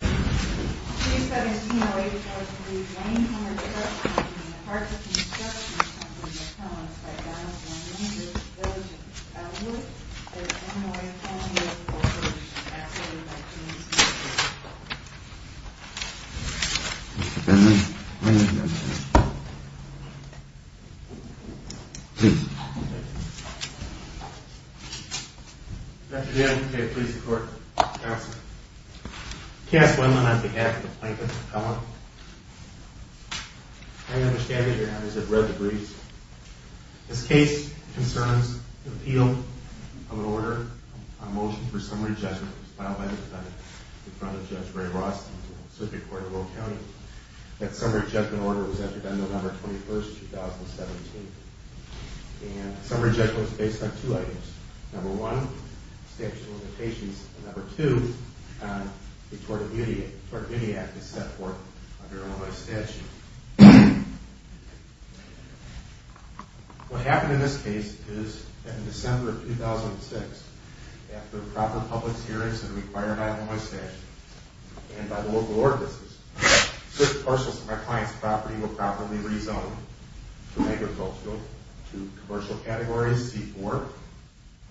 There is no way of telling you if a person is actually a Victim of Sexual Assault. This case concerns the appeal of an order on motion for summary judgment filed by the defendant in front of Judge Ray Rosten in the Pacific Court of Oak County. That summary judgment order was entered on November 21, 2017. Summary judgment was based on two items. Number one, statute of limitations, and number two, the Tort of Immediate Act is set forth under Illinois statute. What happened in this case is that in December of 2006, after proper public hearings and required by Illinois statute and by the local ordinances, that six parcels of my client's property were properly rezoned to agricultural, to commercial categories, C4,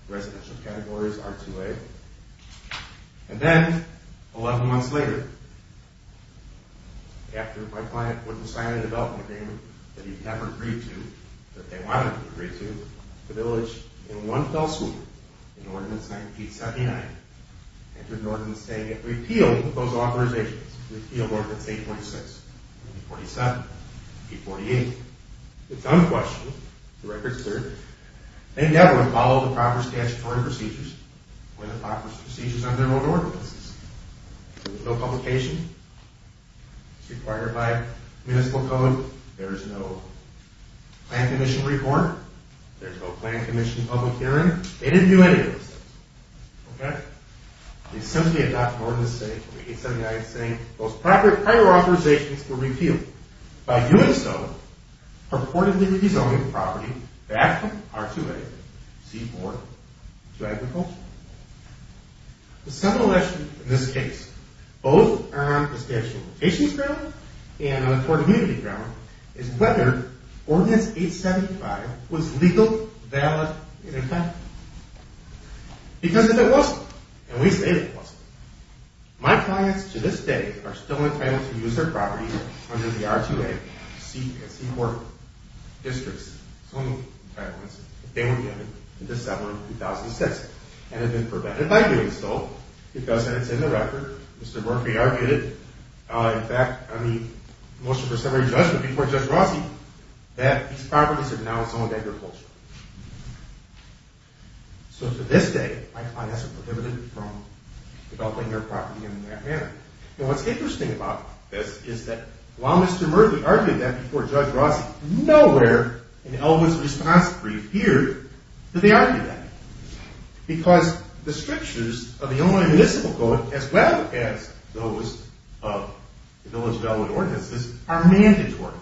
residential categories, R2A. And then, 11 months later, after my client would sign a development agreement that he had agreed to, that they wanted to agree to, the village, in one fell swoop, in ordinance 1979, entered an ordinance saying it would repeal those authorizations, repeal ordinance 826, 847, 848. It's unquestionable, the record's clear, they never followed the proper statutory procedures or the proper procedures under their own ordinances. There's no publication, it's required by municipal code, there's no plan commission report, there's no plan commission public hearing. They didn't do any of those things, okay? They simply adopted ordinance 879 saying those proper prior authorizations were repealed. By doing so, purportedly rezoning the property back from R2A, C4, to agricultural. The seminal question in this case, both on the statute of limitations ground and on the court immunity ground, is whether ordinance 875 was legal, valid, and effective. Because if it wasn't, and we say if it wasn't, my clients to this day are still entitled to use their property under the R2A, C, and C4 districts. They were given in December of 2006, and have been prevented by doing so, because it's in the record, Mr. Murphy argued it, in fact, on the motion for summary judgment before Judge Rossi, that these properties are now zoned agricultural. So to this day, my clients are prohibited from developing their property in that manner. And what's interesting about this is that while Mr. Murphy argued that before Judge Rossi, nowhere in Elwood's response brief here did they argue that. Because the strictures of the Illinois Municipal Code, as well as those of the village development ordinances, are mandatory.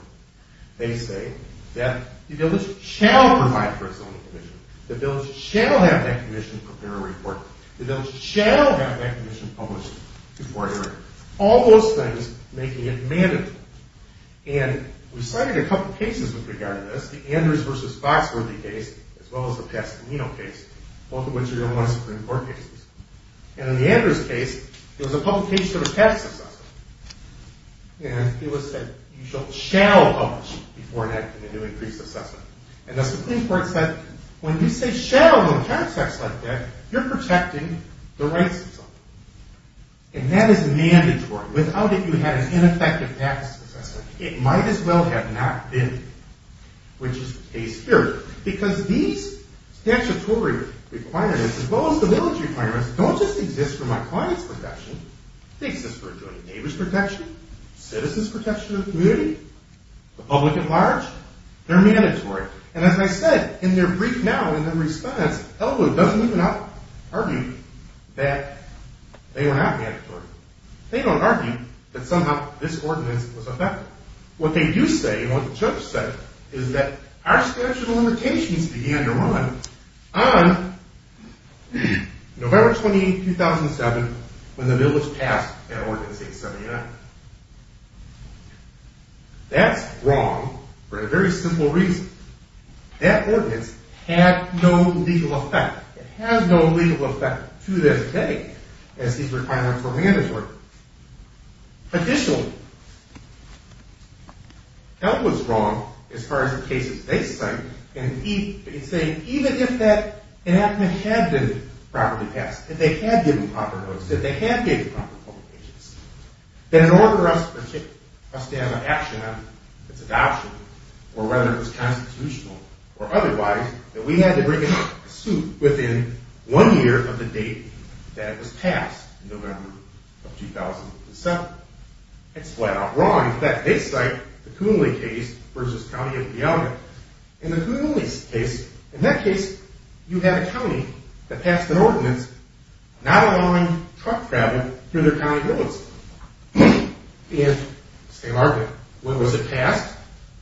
They say that the village shall provide for a zoning commission, the village shall have that commission prepare a report, the village shall have that commission published before hearing. All those things making it mandatory. And we cited a couple cases with regard to this, the Andrews v. Foxworthy case, as well as the Pasadena case, both of which are Illinois Supreme Court cases. And in the Andrews case, it was a publication of a tax assessment. And it was said, you shall shall publish before enacting a new increased assessment. And the Supreme Court said, when you say shall, you're protecting the rights of someone. And that is mandatory. Without it, you have an ineffective tax assessment. It might as well have not been, which is the case here. Because these statutory requirements, as well as the village requirements, don't just exist for my clients' protection. They exist for a joint neighbor's protection, citizens' protection of the community, the public at large. They're mandatory. And as I said, in their brief now, in their response, Ellwood doesn't even argue that they were not mandatory. They don't argue that somehow this ordinance was effective. What they do say, and what the judge said, is that our statute of limitations began to run on November 28, 2007, when the bill was passed at Ordinance 879. That's wrong for a very simple reason. That ordinance had no legal effect. It has no legal effect to this day, as these requirements were mandatory. Additionally, Ellwood's wrong as far as the cases they cite, in saying even if that enactment had been properly passed, if they had given proper notice, if they had given proper public agency, that in order for us to take a stand on action on its adoption, or whether it was constitutional or otherwise, that we had to bring in a suit within one year of the date that it was passed, in November of 2007. It's flat-out wrong. In fact, they cite the Coonley case versus County of Puyallup. In the Coonley case, in that case, you had a county that passed an ordinance not allowing truck travel through their county roads. And, say, Margaret, when was it passed?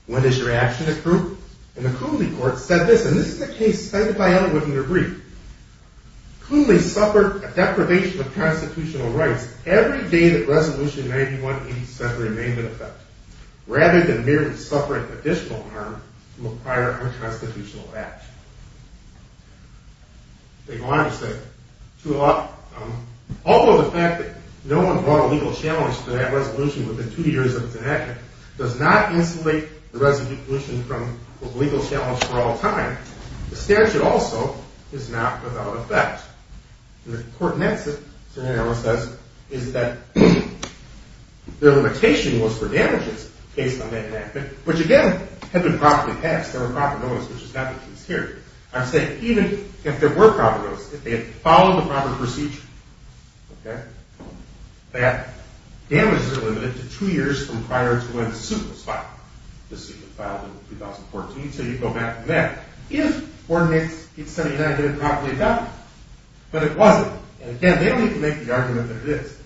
When does your action accrue? And the Coonley court said this, and this is a case cited by Ellwood in their brief. Coonley suffered a deprivation of constitutional rights every day that Resolution 9187 remained in effect. Rather than merely suffering additional harm from a prior unconstitutional action. They go on to say, although the fact that no one brought a legal challenge to that resolution within two years of its enactment does not insulate the resolution from a legal challenge for all time, the statute also is not without effect. And the court in that scenario says, is that their limitation was for damages based on that enactment, which, again, had been properly passed. There were proper notice, which is not the case here. I'm saying even if there were proper notice, if they had followed the proper procedure, that damages are limited to two years from prior to when the suit was filed. The suit was filed in 2014, so you go back to that. If ordinance 879 had been properly adopted. But it wasn't. And again, they don't even make the argument that it is.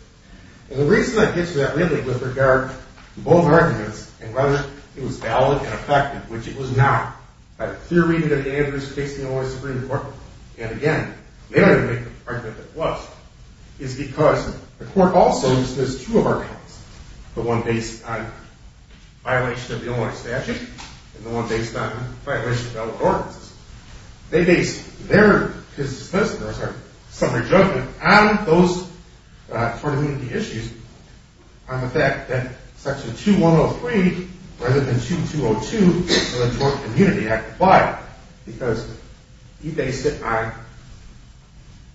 And the reason I get to that, really, with regard to both arguments, and whether it was valid and effective, which it was not, by the theory that Andrews faced the Illinois Supreme Court, and again, they don't even make the argument that it was, is because the court also uses two of our cases. The one based on violations of the Illinois statute, and the one based on violations of other ordinances. They base their dismissal, or some of their judgment, on those tort immunity issues, on the fact that Section 2103, rather than 2202, the Tort Immunity Act applied, because he based it on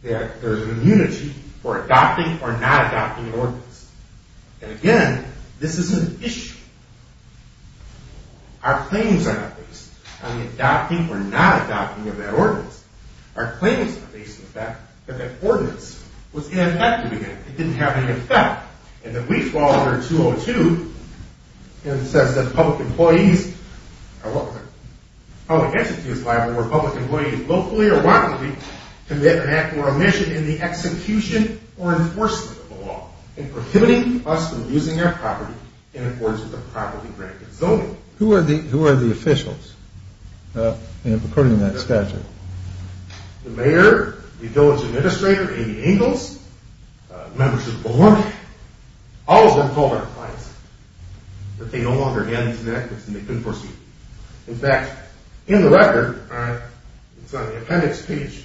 that there's an immunity for adopting or not adopting an ordinance. And again, this is an issue. Our claims are not based on the adopting or not adopting of that ordinance. Our claims are based on the fact that that ordinance was ineffective again. It didn't have any effect. And then we fall under 202, and it says that public employees are welcome. Public entities are liable where public employees locally or widely commit an act or omission in the execution or enforcement of the law. And prohibiting us from using our property in accordance with the property grant zoning. Who are the officials in purporting to that statute? The mayor, the village administrator, Amy Ingalls, members of the board, all of them told our clients that they no longer had these enactments and they couldn't proceed. In fact, in the record, it's on the appendix, page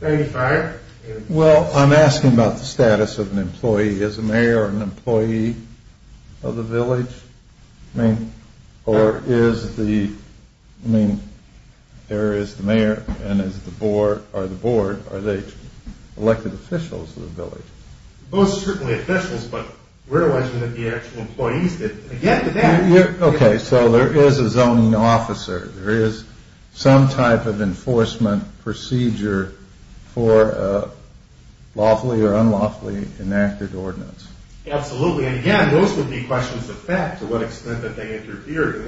95. Well, I'm asking about the status of an employee. Is the mayor an employee of the village? I mean, or is the, I mean, there is the mayor and is the board, are they elected officials of the village? Most certainly officials, but we're watching that the actual employees didn't get to that. Okay, so there is a zoning officer. There is some type of enforcement procedure for lawfully or unlawfully enacted ordinance. Absolutely. And again, those would be questions of fact to what extent that they interfered.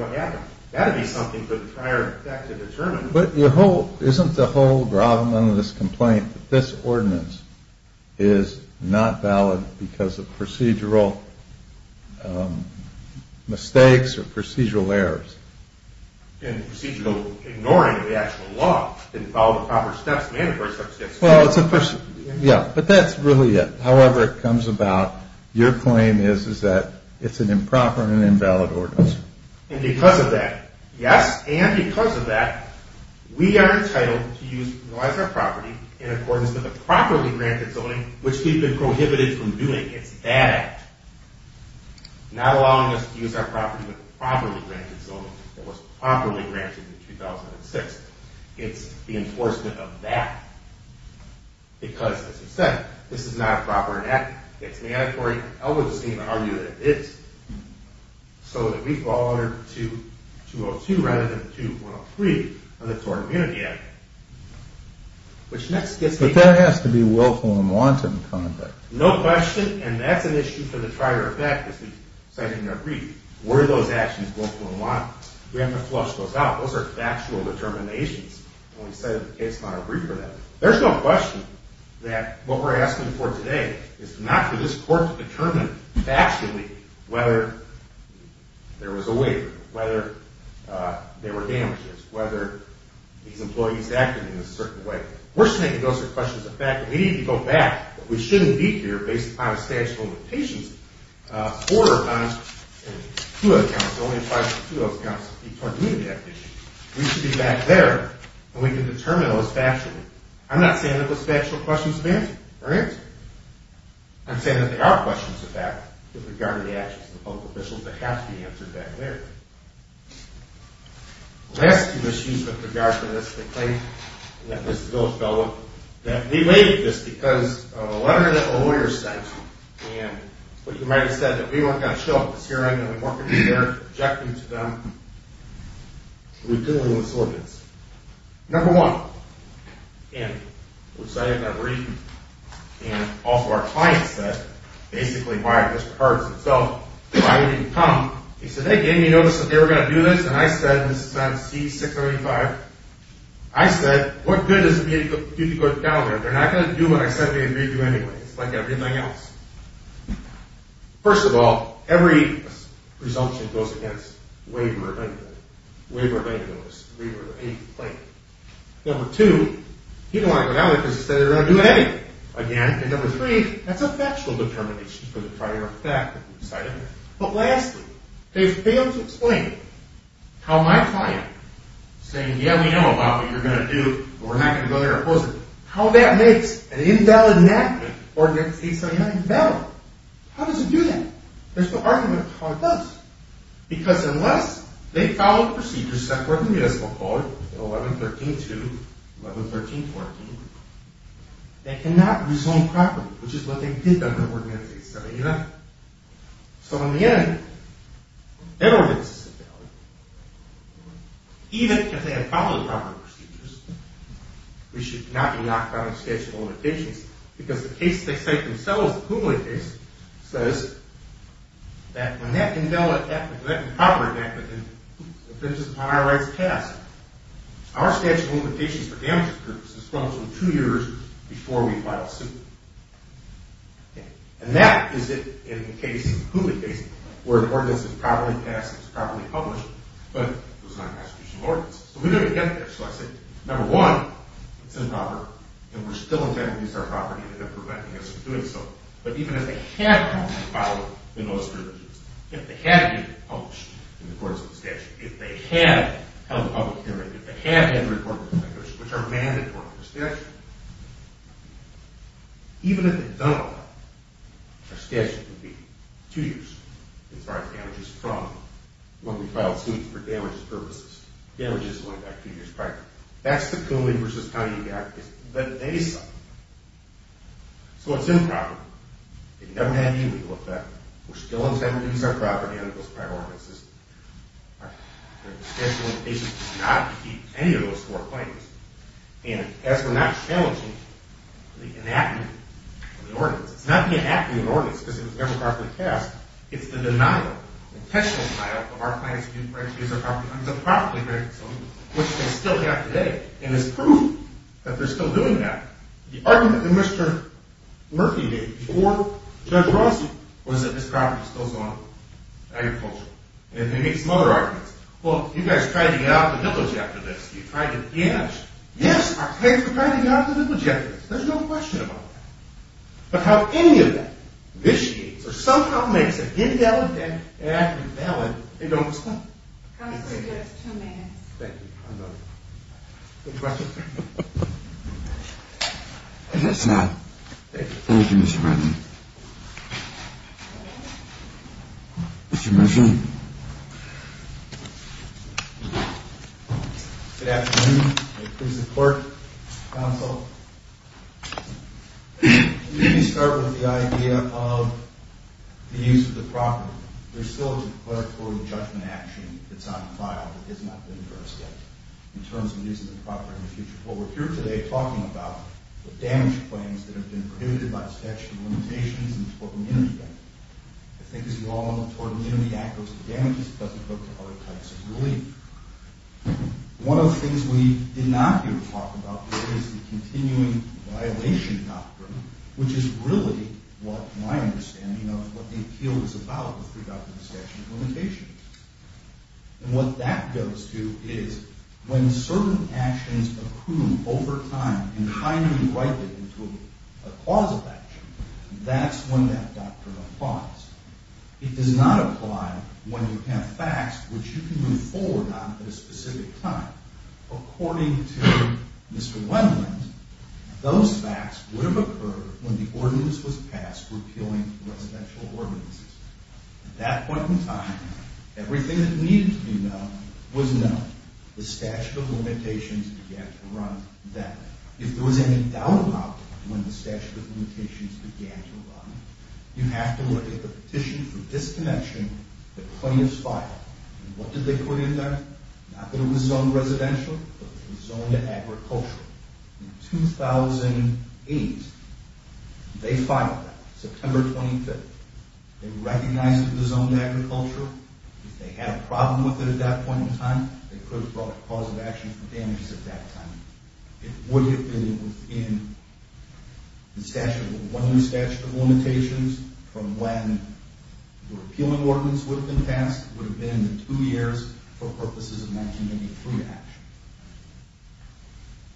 That would be something for the prior effect to determine. But isn't the whole problem of this complaint that this ordinance is not valid because of procedural mistakes or procedural errors? And procedural ignoring of the actual law. Didn't follow the proper steps, mandatory steps. Well, it's a, yeah, but that's really it. However it comes about, your claim is that it's an improper and invalid ordinance. And because of that, yes, and because of that, we are entitled to utilize our property in accordance with the properly granted zoning, which we've been prohibited from doing. It's that act. Not allowing us to use our property in the properly granted zoning that was properly granted in 2006. It's the enforcement of that. Because, as you said, this is not a proper enactment. It's mandatory. I would just argue that it is. So that we fall under 202 rather than 203 of the Tort Immunity Act. But that has to be willful and wanton conduct. No question. And that's an issue for the trier of fact, as we cited in our brief. Where are those actions willful and wanton? We have to flush those out. Those are factual determinations. And we cited the case in our brief for that. There's no question that what we're asking for today is not for this court to determine factually whether there was a waiver, whether there were damages, whether these employees acted in a certain way. We're just making those questions a fact. We need to go back. But we shouldn't be here based upon a statute of limitations. A quarter of an ounce in two of those counts only applies to two of those counts of the Tort Immunity Act issue. We should be back there, and we can determine those factually. I'm not saying that those factual questions are answered. I'm saying that there are questions of that with regard to the actions of the public officials that have to be answered back there. The last two issues with regard to this complaint, and this is a little fellow, that we made this because of a letter that a lawyer sent. And you might have said that we weren't going to show it because here I am going to walk into there, objecting to them, and we're doing this ordinance. Number one, and we cited in our brief, and also our client said basically why it just hurts itself, why we didn't come. He said they gave me notice that they were going to do this, and I said, and this is on C-635, I said, what good does it do to go down there? They're not going to do what I said they were going to do anyway. It's like everything else. First of all, every presumption goes against waiver of any notice, waiver of any complaint. Number two, he didn't want to go down there because he said they were going to do anything. Again, and number three, that's a factual determination for the prior fact that we cited. But lastly, they failed to explain how my client, saying, yeah, we know about what you're going to do, but we're not going to go there and oppose it, how that makes an invalid enactment of Ordinance 879 better. How does it do that? There's no argument of how it does. Because unless they follow procedures set forth in the Municipal Code, 1113-2, 1113-14, they cannot resolve properly, which is what they did under Ordinance 879. So in the end, their ordinance is invalid. Even if they had followed the proper procedures, we should not be locked out of statute of limitations because the case they cite themselves, the Kugle case, says that when that invalid enactment, if it is upon our rights to pass, our statute of limitations for damages purposes comes from two years before we file suit. And that is it in the case, the Kugle case, where an ordinance is properly passed, it's properly published, but it was not an constitutional ordinance. So we don't get that. So I said, number one, it's improper, and we're still attempting to use our property to prevent us from doing so. But even if they had properly followed the notice of provisions, if they had it published in the courts of the statute, if they had held public hearing, if they had had a report of the situation, which are mandatory in the statute, even if they've done all that, our statute would be two years as far as damages from when we filed suit for damages purposes. Damages going back two years prior. That's the Kugle v. County you've got. But they suffered. So it's improper. It never had any legal effect. We're still attempting to use our property under those prior ordinances. Our statute of limitations does not keep any of those four claims. And as we're not challenging the enactment of the ordinance, it's not the enactment of the ordinance because it was democratically passed, it's the denial, the intentional denial, of our plans to use our property under the properly granted statute, which they still have today, and it's proof that they're still doing that. The argument that Mr. Murphy made before Judge Rossi was that this property still is on agricultural. And they made some other arguments. Well, you guys tried to get out of the village after this. You tried to damage. Yes, our kids were trying to get out of the village after this. There's no question about that. But how any of that vitiates or somehow makes an invalid and an invalid, they don't explain. Counselor, you have two minutes. Thank you. I'm done. Any questions? I guess not. Thank you. Thank you, Mr. Brennan. Mr. Murphy? Good afternoon. Please support, counsel. Let me start with the idea of the use of the property. There's still a declaratory judgment action that's on file that has not been addressed yet in terms of the use of the property in the future. What we're here today talking about are damage claims that have been prohibited by the statute of limitations and tort immunity. I think as you all know, the tort immunity act goes to damages. It doesn't go to other types of relief. One of the things we did not hear talk about is the continuing violation doctrine, which is really what my understanding of what the appeal is about with regard to the statute of limitations. And what that goes to is when certain actions accrue over time and finally ripen into a cause of action, that's when that doctrine applies. It does not apply when you have facts which you can move forward on at a specific time. According to Mr. Wendland, those facts would have occurred when the ordinance was passed repealing residential ordinances. At that point in time, everything that needed to be known was known. The statute of limitations began to run then. If there was any doubt about when the statute of limitations began to run, you have to look at the petition for disconnection that plaintiffs filed. What did they put in there? Not that it was zoned residential, but it was zoned agricultural. In 2008, they filed that, September 25th. They recognized it was zoned agriculture. If they had a problem with it at that point in time, they could have brought a cause of action for damages at that time. It would have been within the statute of limitations from when the repealing ordinance would have been passed. It would have been in two years for purposes of 1983 action.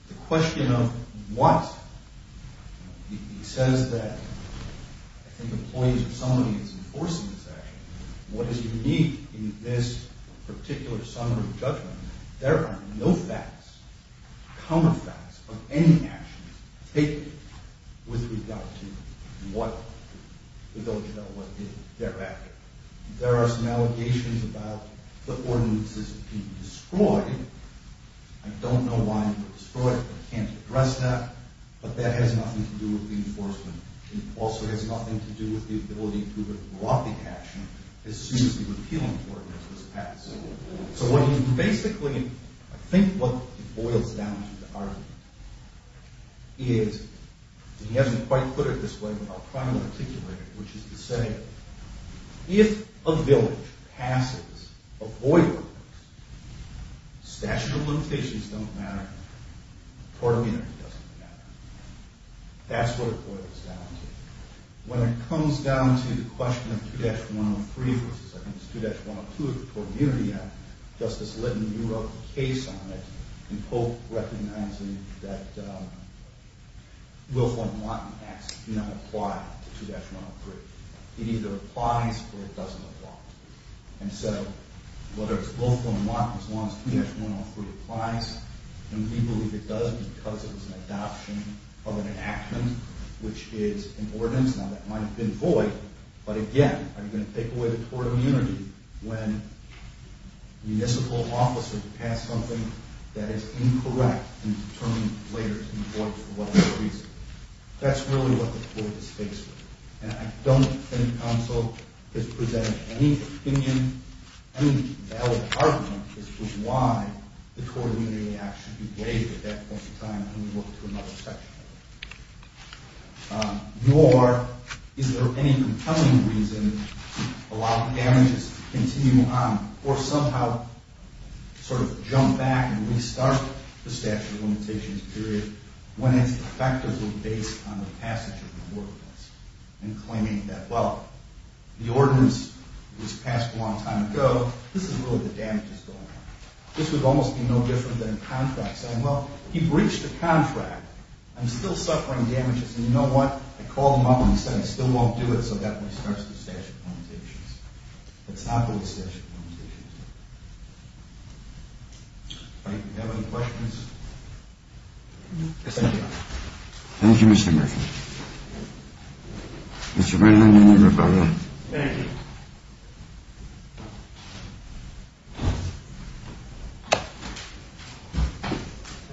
The question of what? He says that I think employees or somebody is enforcing this action. What is unique in this particular summary of judgment? There are no facts, common facts, of any action taken with regard to what they did thereafter. There are some allegations about the ordinances being destroyed. I don't know why they were destroyed. I can't address that, but that has nothing to do with the enforcement. It also has nothing to do with the ability to have brought the action as soon as the repealing ordinance was passed. So what he basically, I think what boils down to the argument is, and he hasn't quite put it this way, but I'll try to articulate it, which is to say, if a village passes a void ordinance, statute of limitations don't matter, tort immunity doesn't matter. That's what it boils down to. When it comes down to the question of 2-103 versus 2-102 of the Tort Immunity Act, Justice Litton, you wrote a case on it, and Pope recognizing that Wilford and Lawton acts do not apply to 2-103. It either applies or it doesn't apply. And so whether it's Wilford and Lawton as long as 2-103 applies, and we believe it does because it was an adoption of an action which is an ordinance. Now that might have been void, but again, are you going to take away the tort immunity when municipal officers pass something that is incorrect in determining later in court for whatever reason? That's really what the court is faced with. And I don't think counsel has presented any opinion, any valid argument as to why the tort immunity act should be waived at that point in time when we look to another section. Nor is there any compelling reason to allow the damages to continue on or somehow sort of jump back and restart the statute of limitations period when its effectors were based on the passage of the ordinance and claiming that, well, the ordinance was passed a long time ago. This is really the damage that's going on. This would almost be no different than a contract saying, well, he breached the contract. I'm still suffering damages, and you know what? I called him up and he said he still won't do it, so that only starts the statute of limitations. Let's not do the statute of limitations. All right. Do we have any questions? Thank you. Thank you, Mr. Murphy. Mr. Brennan and everybody. Thank you.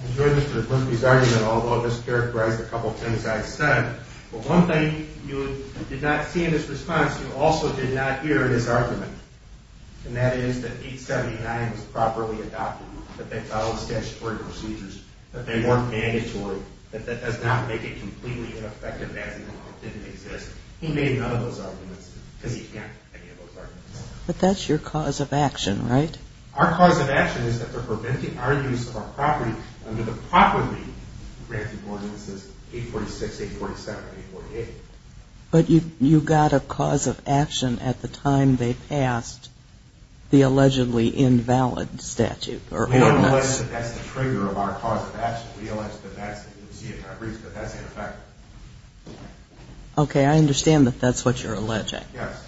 I enjoyed Mr. Murphy's argument, although this characterized a couple of things I said. But one thing you did not see in his response, you also did not hear in his argument, and that is that 879 was properly adopted, that they followed statutory procedures, that they weren't mandatory, that that does not make it completely ineffective as it didn't exist. He made none of those arguments because he can't make any of those arguments. But that's your cause of action, right? Our cause of action is that they're preventing our use of our property under the properly granted ordinances 846, 847, 848. But you got a cause of action at the time they passed the allegedly invalid statute. We don't believe that that's the trigger of our cause of action. We believe that that's the reason, but that's ineffective. Okay. I understand that that's what you're alleging. Yes.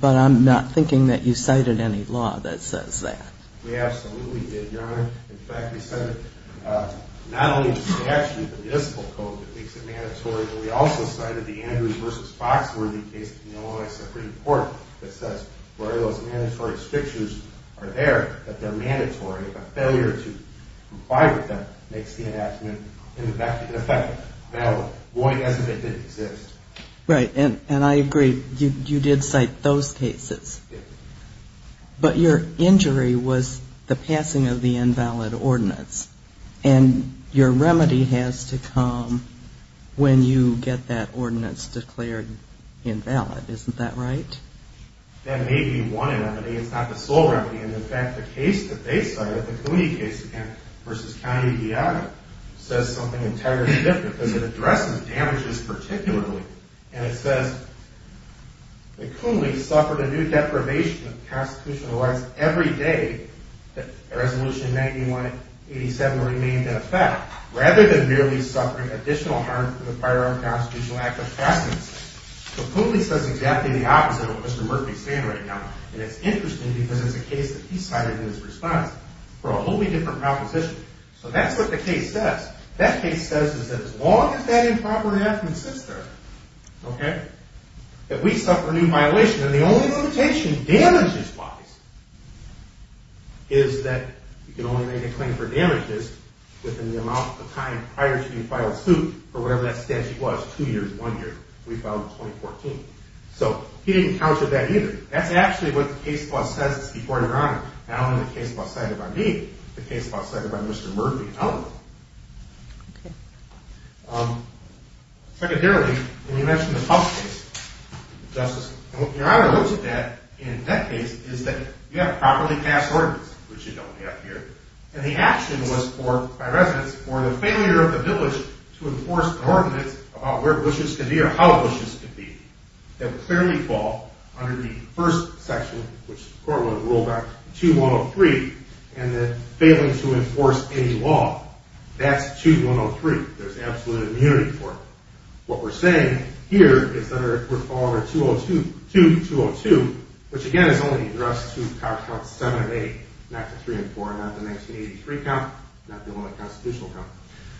But I'm not thinking that you cited any law that says that. We absolutely did, Your Honor. In fact, we cited not only the statute, the municipal code that makes it mandatory, but we also cited the Andrews v. Foxworthy case in the Illinois Supreme Court that says where those mandatory restrictions are there, that they're mandatory. A failure to comply with them makes the enactment ineffective, invalid, void, as if they didn't exist. Right. And I agree. You did cite those cases. Yes. But your injury was the passing of the invalid ordinance, and your remedy has to come when you get that ordinance declared invalid. Isn't that right? That may be one remedy. It's not the sole remedy. And, in fact, the case that they cited, the Coonley case, again, versus County v. Iowa says something entirely different because it addresses damages particularly. And it says that Coonley suffered a new deprivation of constitutional rights every day that Resolution 9187 remained in effect, rather than merely suffering additional harm from the firearm constitutional act of precedence. So Coonley says exactly the opposite of what Mr. Murphy's saying right now. And it's interesting because it's a case that he cited in his response for a wholly different proposition. So that's what the case says. That case says that as long as that improper enactment exists there, okay, that we suffer a new violation. And the only limitation, damages-wise, is that you can only make a claim for damages within the amount of time prior to you filing suit for whatever that statute was, two years, one year. We filed in 2014. So he didn't counter that either. That's actually what the case law says before Your Honor, not only the case law cited by me, the case law cited by Mr. Murphy and others. Okay. Secondarily, when you mentioned the Huff case, Justice, and what Your Honor looks at in that case is that you have a properly passed ordinance, which you don't have here. And the action was by residents for the failure of the village to enforce an ordinance about where bushes can be or how bushes can be that would clearly fall under the first section, which the court would have ruled on 2-103, and the failing to enforce any law. That's 2-103. There's absolute immunity for it. What we're saying here is that it would fall under 2-202, which again is only addressed to counts seven and eight, not the three and four, not the 1983 count, not the only constitutional count,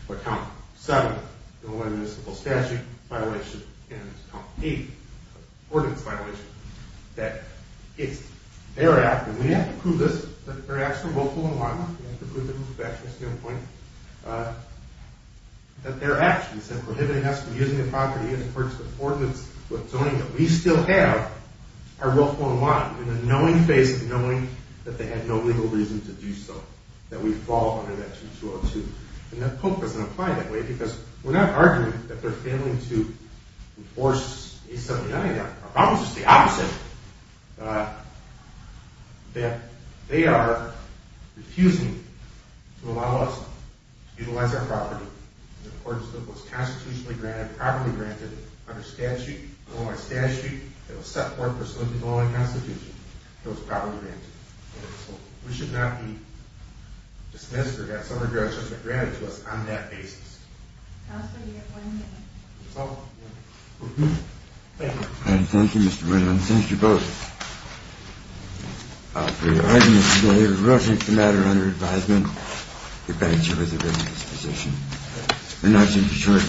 but count seven, the only municipal statute violation, and count eight, the ordinance violation, that it's their act, and we have to prove this, that their acts are willful and lawful, we have to prove it from a professional standpoint, that their actions in prohibiting us from using the property in accordance with the ordinance zoning that we still have are willful and lawful in the knowing face of knowing that they had no legal reason to do so, that we fall under that 2-202. And the Pope doesn't apply that way, because we're not arguing that they're failing to enforce 879. Our problem is just the opposite, that they are refusing to allow us to utilize our property in accordance with what's constitutionally granted, properly granted under statute, the only statute that was set forth pursuant to the only constitution that was properly granted. And so we should not be dismissed or get some regressions that are granted to us on that basis. Thank you. Thank you, Mr. Brennan. Thank you both. For your arguments today, in reference to the matter under advisement, the bench was a witness position.